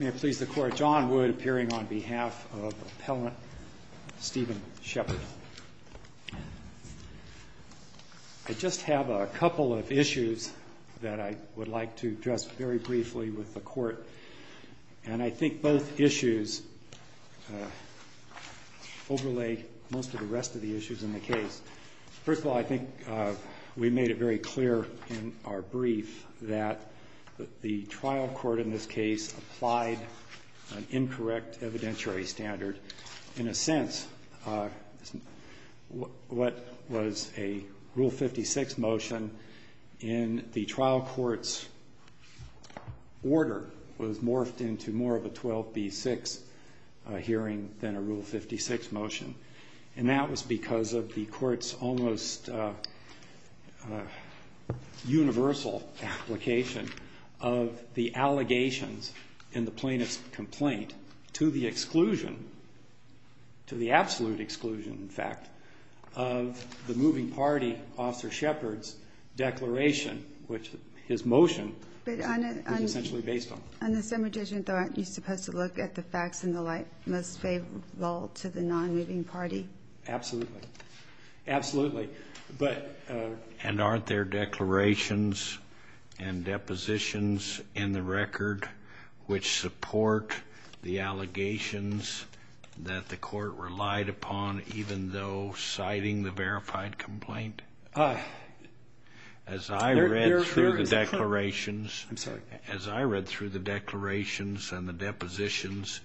May it please the Court, John Wood appearing on behalf of Appellant Stephen Shephard. I just have a couple of issues that I would like to address very briefly with the Court, and I think both issues overlay most of the rest of the issues in the case. First of all, I think we made it very clear in our brief that the trial court in this case applied an incorrect evidentiary standard. In a sense, what was a Rule 56 motion in the trial court's order was morphed into more of a 12b-6 hearing than a Rule 56 motion. And that was because of the Court's almost universal application of the allegations in the plaintiff's complaint to the exclusion, to the absolute exclusion, in fact, of the moving party, Officer Shephard's declaration, which his motion was essentially based on. On the same addition, though, aren't you supposed to look at the facts in the light most favorable to the non-moving party? Absolutely. Absolutely. But And aren't there declarations and depositions in the record which support the allegations that the Court relied upon even though citing the verified complaint? As I read through the declarations and the depositions,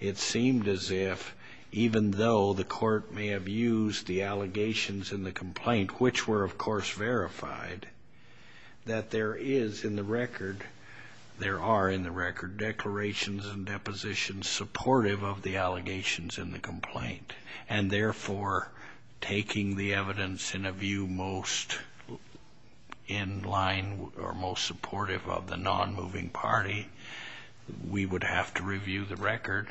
it seemed as if even though the Court may have used the allegations in the complaint, which were, of course, verified, that there is in the record, there are in the record, declarations and depositions supportive of the allegations in the complaint, and therefore taking the evidence in a view most in line or most supportive of the non-moving party, we would have to review the record,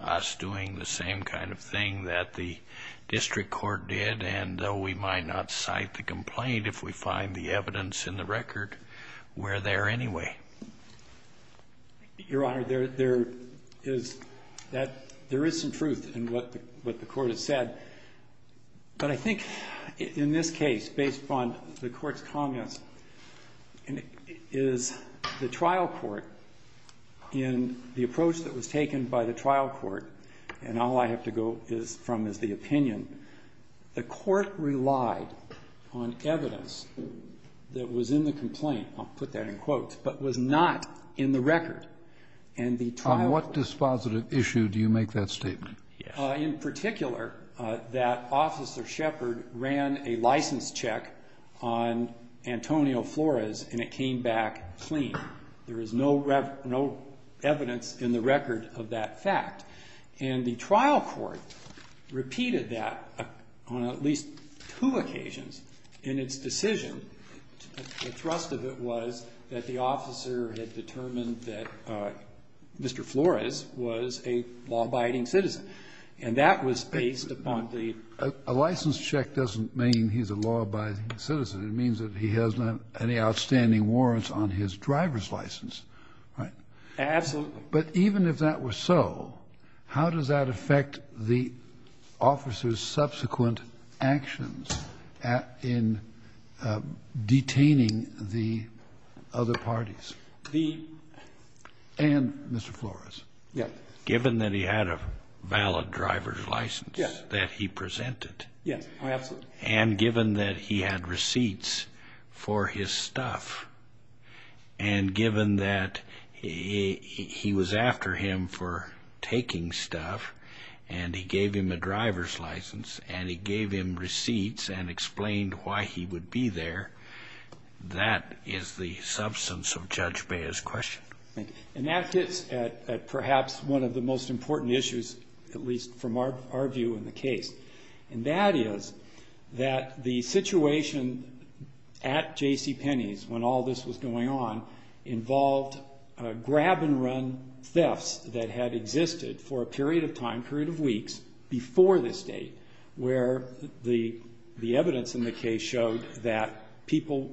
us doing the same kind of thing that the district court did. And though we might not cite the complaint, if we find the evidence in the record, we're there anyway. Your Honor, there is some truth in what the Court has said. But I think in this case, based upon the Court's comments, is the trial court, in the approach that was taken by the trial court, and all I have to go from is the opinion, the Court relied on evidence that was in the complaint. I'll put that in quotes. But was not in the record. And the trial court. On what dispositive issue do you make that statement? In particular, that Officer Shepard ran a license check on Antonio Flores, and it came back clean. There is no evidence in the record of that fact. And the trial court repeated that on at least two occasions in its decision. The thrust of it was that the officer had determined that Mr. Flores was a law-abiding citizen. And that was based upon the ---- A license check doesn't mean he's a law-abiding citizen. It means that he has not had any outstanding warrants on his driver's license. Absolutely. But even if that were so, how does that affect the officer's subsequent actions in detaining the other parties? The ---- And Mr. Flores. Yes. Given that he had a valid driver's license that he presented. Yes. Absolutely. And given that he had receipts for his stuff, and given that he was after him for taking stuff, and he gave him a driver's license, and he gave him receipts and explained why he would be there, that is the substance of Judge Bea's question. And that gets at perhaps one of the most important issues, at least from our view in the case. And that is that the situation at J.C. Penney's, when all this was going on, involved grab-and-run thefts that had existed for a period of time, a period of weeks, before this date, where the evidence in the case showed that people,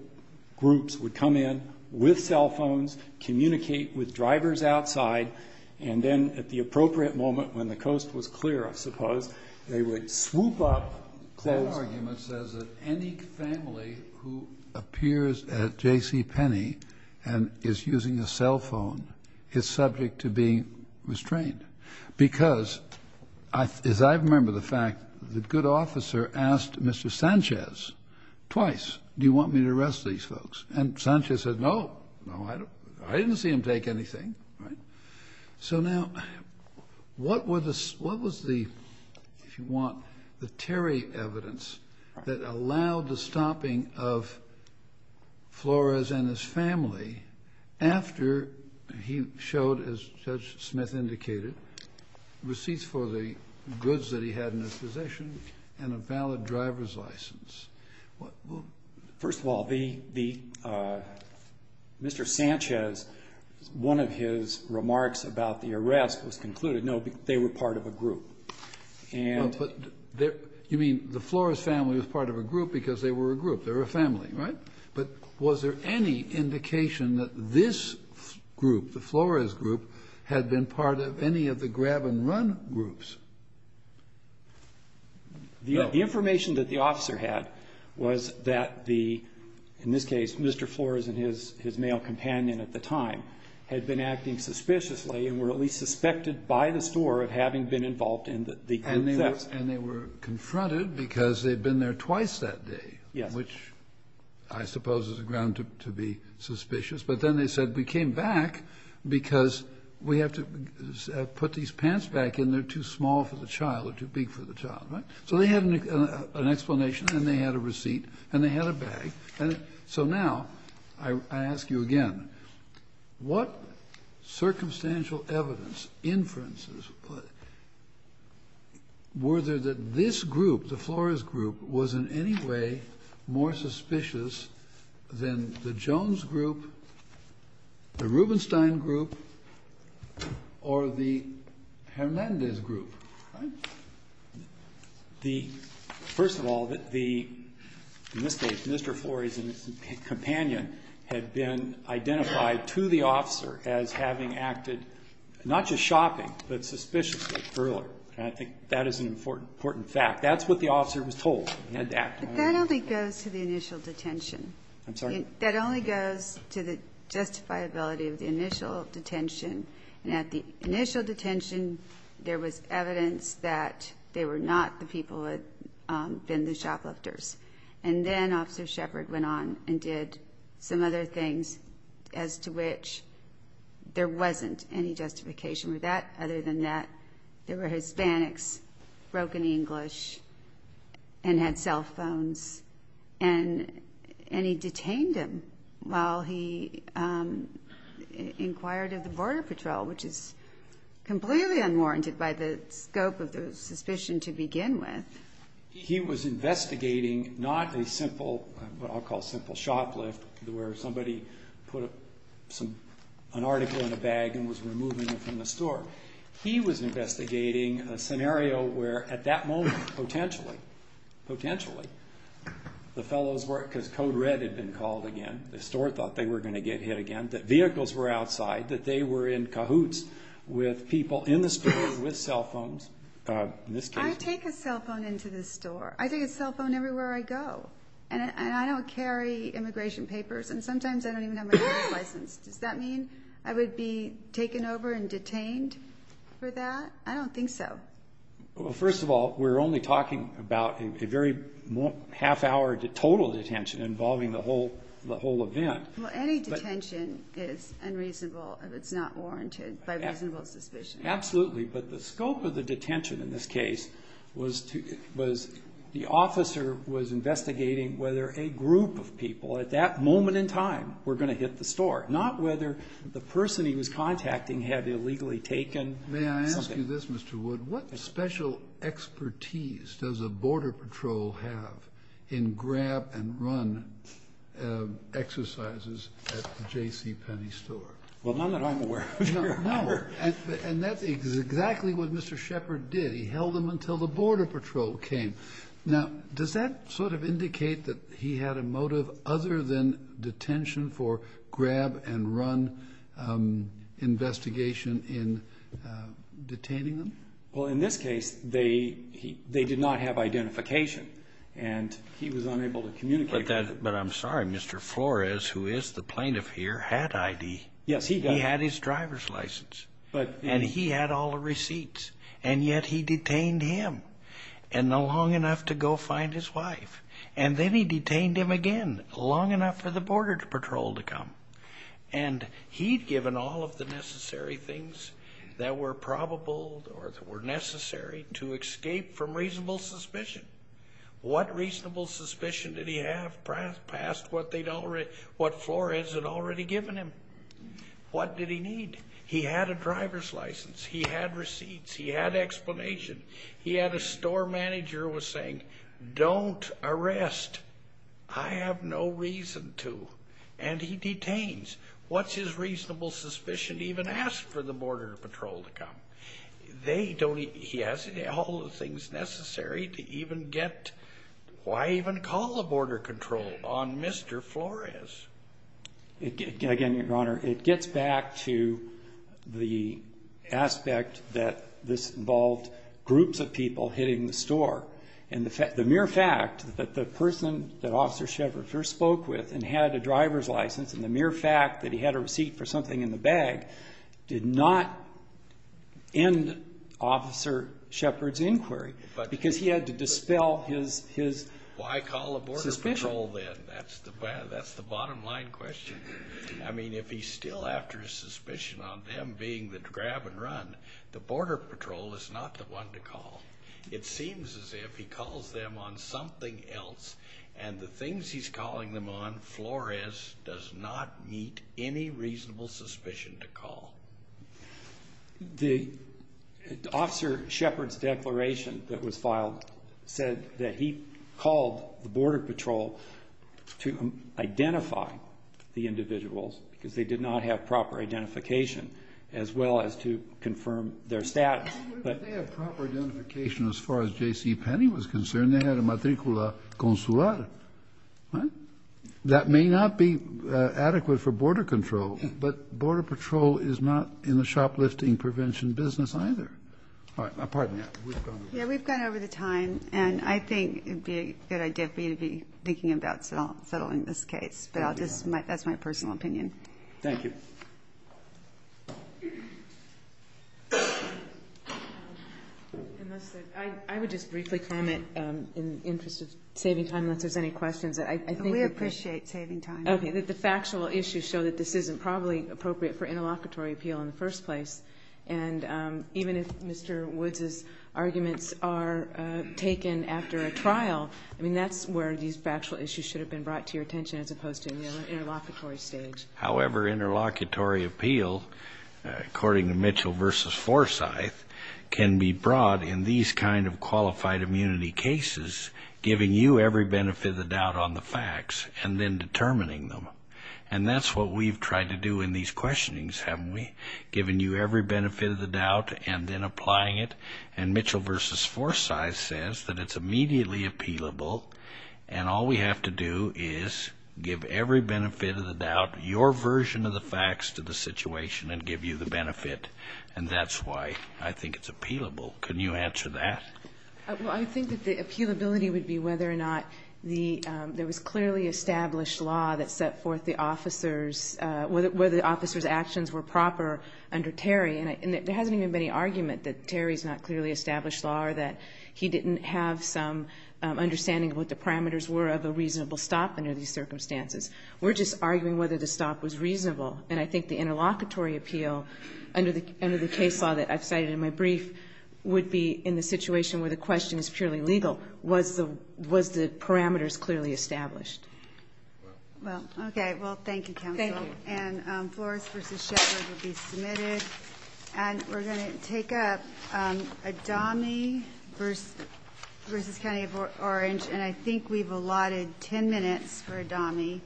groups, would come in with cell phones, communicate with drivers outside, and then at the appropriate moment when the coast was clear, I suppose, they would swoop up, close up. That argument says that any family who appears at J.C. Penney and is using a cell phone is subject to being restrained. Because, as I remember the fact, the good officer asked Mr. Sanchez twice, do you want me to arrest these folks? And Sanchez said, no, no. I didn't see him take anything. So now, what was the, if you want, the Terry evidence that allowed the stopping of Flores and his family after he showed, as Judge Smith indicated, receipts for the goods that he had in his possession and a valid driver's license? First of all, Mr. Sanchez, one of his remarks about the arrest was concluded, no, they were part of a group. You mean the Flores family was part of a group because they were a group, they were a family, right? But was there any indication that this group, the Flores group, had been part of any of the grab-and-run groups? No. The information that the officer had was that the, in this case, Mr. Flores and his male companion at the time had been acting suspiciously and were at least suspected by the store of having been involved in the thefts. And they were confronted because they'd been there twice that day. Yes. Which I suppose is a ground to be suspicious. But then they said, because we have to put these pants back in, they're too small for the child or too big for the child, right? So they had an explanation and they had a receipt and they had a bag. And so now I ask you again, what circumstantial evidence, inferences, were there that this group, the Flores group, was in any way more suspicious than the Jones group, the Rubenstein group, or the Hernandez group? First of all, the, in this case, Mr. Flores and his companion had been identified to the officer as having acted not just shopping but suspiciously earlier. And I think that is an important fact. That's what the officer was told at that time. But that only goes to the initial detention. I'm sorry? That only goes to the justifiability of the initial detention. And at the initial detention, there was evidence that they were not the people who had been the shoplifters. And then Officer Shepard went on and did some other things as to which there wasn't any justification with that. There were Hispanics, broken English, and had cell phones. And he detained him while he inquired of the Border Patrol, which is completely unwarranted by the scope of the suspicion to begin with. He was investigating not a simple, what I'll call simple shoplift, where somebody put an article in a bag and was removing it from the store. He was investigating a scenario where, at that moment, potentially, potentially, the fellows were, because code red had been called again, the store thought they were going to get hit again, that vehicles were outside, that they were in cahoots with people in the store with cell phones, in this case. I take a cell phone into the store. I take a cell phone everywhere I go. And I don't carry immigration papers, and sometimes I don't even have my driver's license. Does that mean I would be taken over and detained for that? I don't think so. Well, first of all, we're only talking about a very half-hour total detention involving the whole event. Well, any detention is unreasonable if it's not warranted by reasonable suspicion. Absolutely. But the scope of the detention in this case was the officer was investigating whether a group of people at that moment in time were going to hit the store, not whether the person he was contacting had illegally taken something. May I ask you this, Mr. Wood? What special expertise does a Border Patrol have in grab-and-run exercises at the J.C. Penney store? Well, none that I'm aware of, Your Honor. No. And that's exactly what Mr. Shepard did. He held them until the Border Patrol came. Now, does that sort of indicate that he had a motive other than detention for grab-and-run investigation in detaining them? Well, in this case, they did not have identification, and he was unable to communicate with them. But I'm sorry, Mr. Flores, who is the plaintiff here, had ID. Yes, he did. He had his driver's license, and he had all the receipts, and yet he detained him. And long enough to go find his wife. And then he detained him again, long enough for the Border Patrol to come. And he'd given all of the necessary things that were probable or that were necessary to escape from reasonable suspicion. What reasonable suspicion did he have past what Flores had already given him? What did he need? He had a driver's license. He had receipts. He had explanation. He had a store manager who was saying, Don't arrest. I have no reason to. And he detains. What's his reasonable suspicion to even ask for the Border Patrol to come? He has all the things necessary to even get why even call the Border Control on Mr. Flores. Again, Your Honor, it gets back to the aspect that this involved groups of people hitting the store. And the mere fact that the person that Officer Shepard first spoke with and had a driver's license and the mere fact that he had a receipt for something in the bag did not end Officer Shepard's inquiry because he had to dispel his suspicion. Why call the Border Patrol then? That's the bottom line question. I mean, if he's still after his suspicion on them being the grab and run, the Border Patrol is not the one to call. It seems as if he calls them on something else, and the things he's calling them on Flores does not meet any reasonable suspicion to call. The Officer Shepard's declaration that was filed said that he called the Border Patrol to identify the individuals because they did not have proper identification as well as to confirm their status. They have proper identification as far as J.C. Penny was concerned. They had a matricula consular. That may not be adequate for Border Control, but Border Patrol is not in the shoplifting prevention business either. Pardon me. Yeah, we've gone over the time, and I think it would be a good idea for you to be thinking about settling this case, but that's my personal opinion. Thank you. I would just briefly comment in the interest of saving time unless there's any questions. We appreciate saving time. Okay, that the factual issues show that this isn't probably appropriate for interlocutory appeal in the first place, and even if Mr. Woods' arguments are taken after a trial, I mean that's where these factual issues should have been brought to your attention as opposed to in the interlocutory stage. However, interlocutory appeal, according to Mitchell v. Forsyth, can be brought in these kind of qualified immunity cases, giving you every benefit of the doubt on the facts and then determining them. And that's what we've tried to do in these questionings, haven't we? Giving you every benefit of the doubt and then applying it. And Mitchell v. Forsyth says that it's immediately appealable, and all we have to do is give every benefit of the doubt, your version of the facts to the situation and give you the benefit, and that's why I think it's appealable. Can you answer that? Well, I think that the appealability would be whether or not there was clearly established law that set forth the officer's, whether the officer's actions were proper under Terry, and there hasn't even been any argument that Terry's not clearly established law or that he didn't have some understanding of what the parameters were of a reasonable stop under these circumstances. We're just arguing whether the stop was reasonable, and I think the interlocutory appeal under the case law that I've cited in my brief would be in the situation where the question is purely legal. Was the parameters clearly established? Well, okay. Well, thank you, counsel. Thank you. And Flores v. Shepard will be submitted, and we're going to take up Adami v. County of Orange, and I think we've allotted 10 minutes for Adami,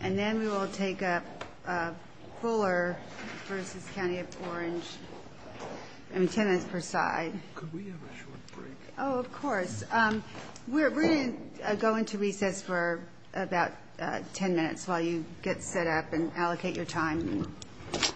and then we will take up Fuller v. County of Orange. I mean, 10 minutes per side. Could we have a short break? Oh, of course. We're going to go into recess for about 10 minutes while you get set up and allocate your time. So all rise for 10 minutes.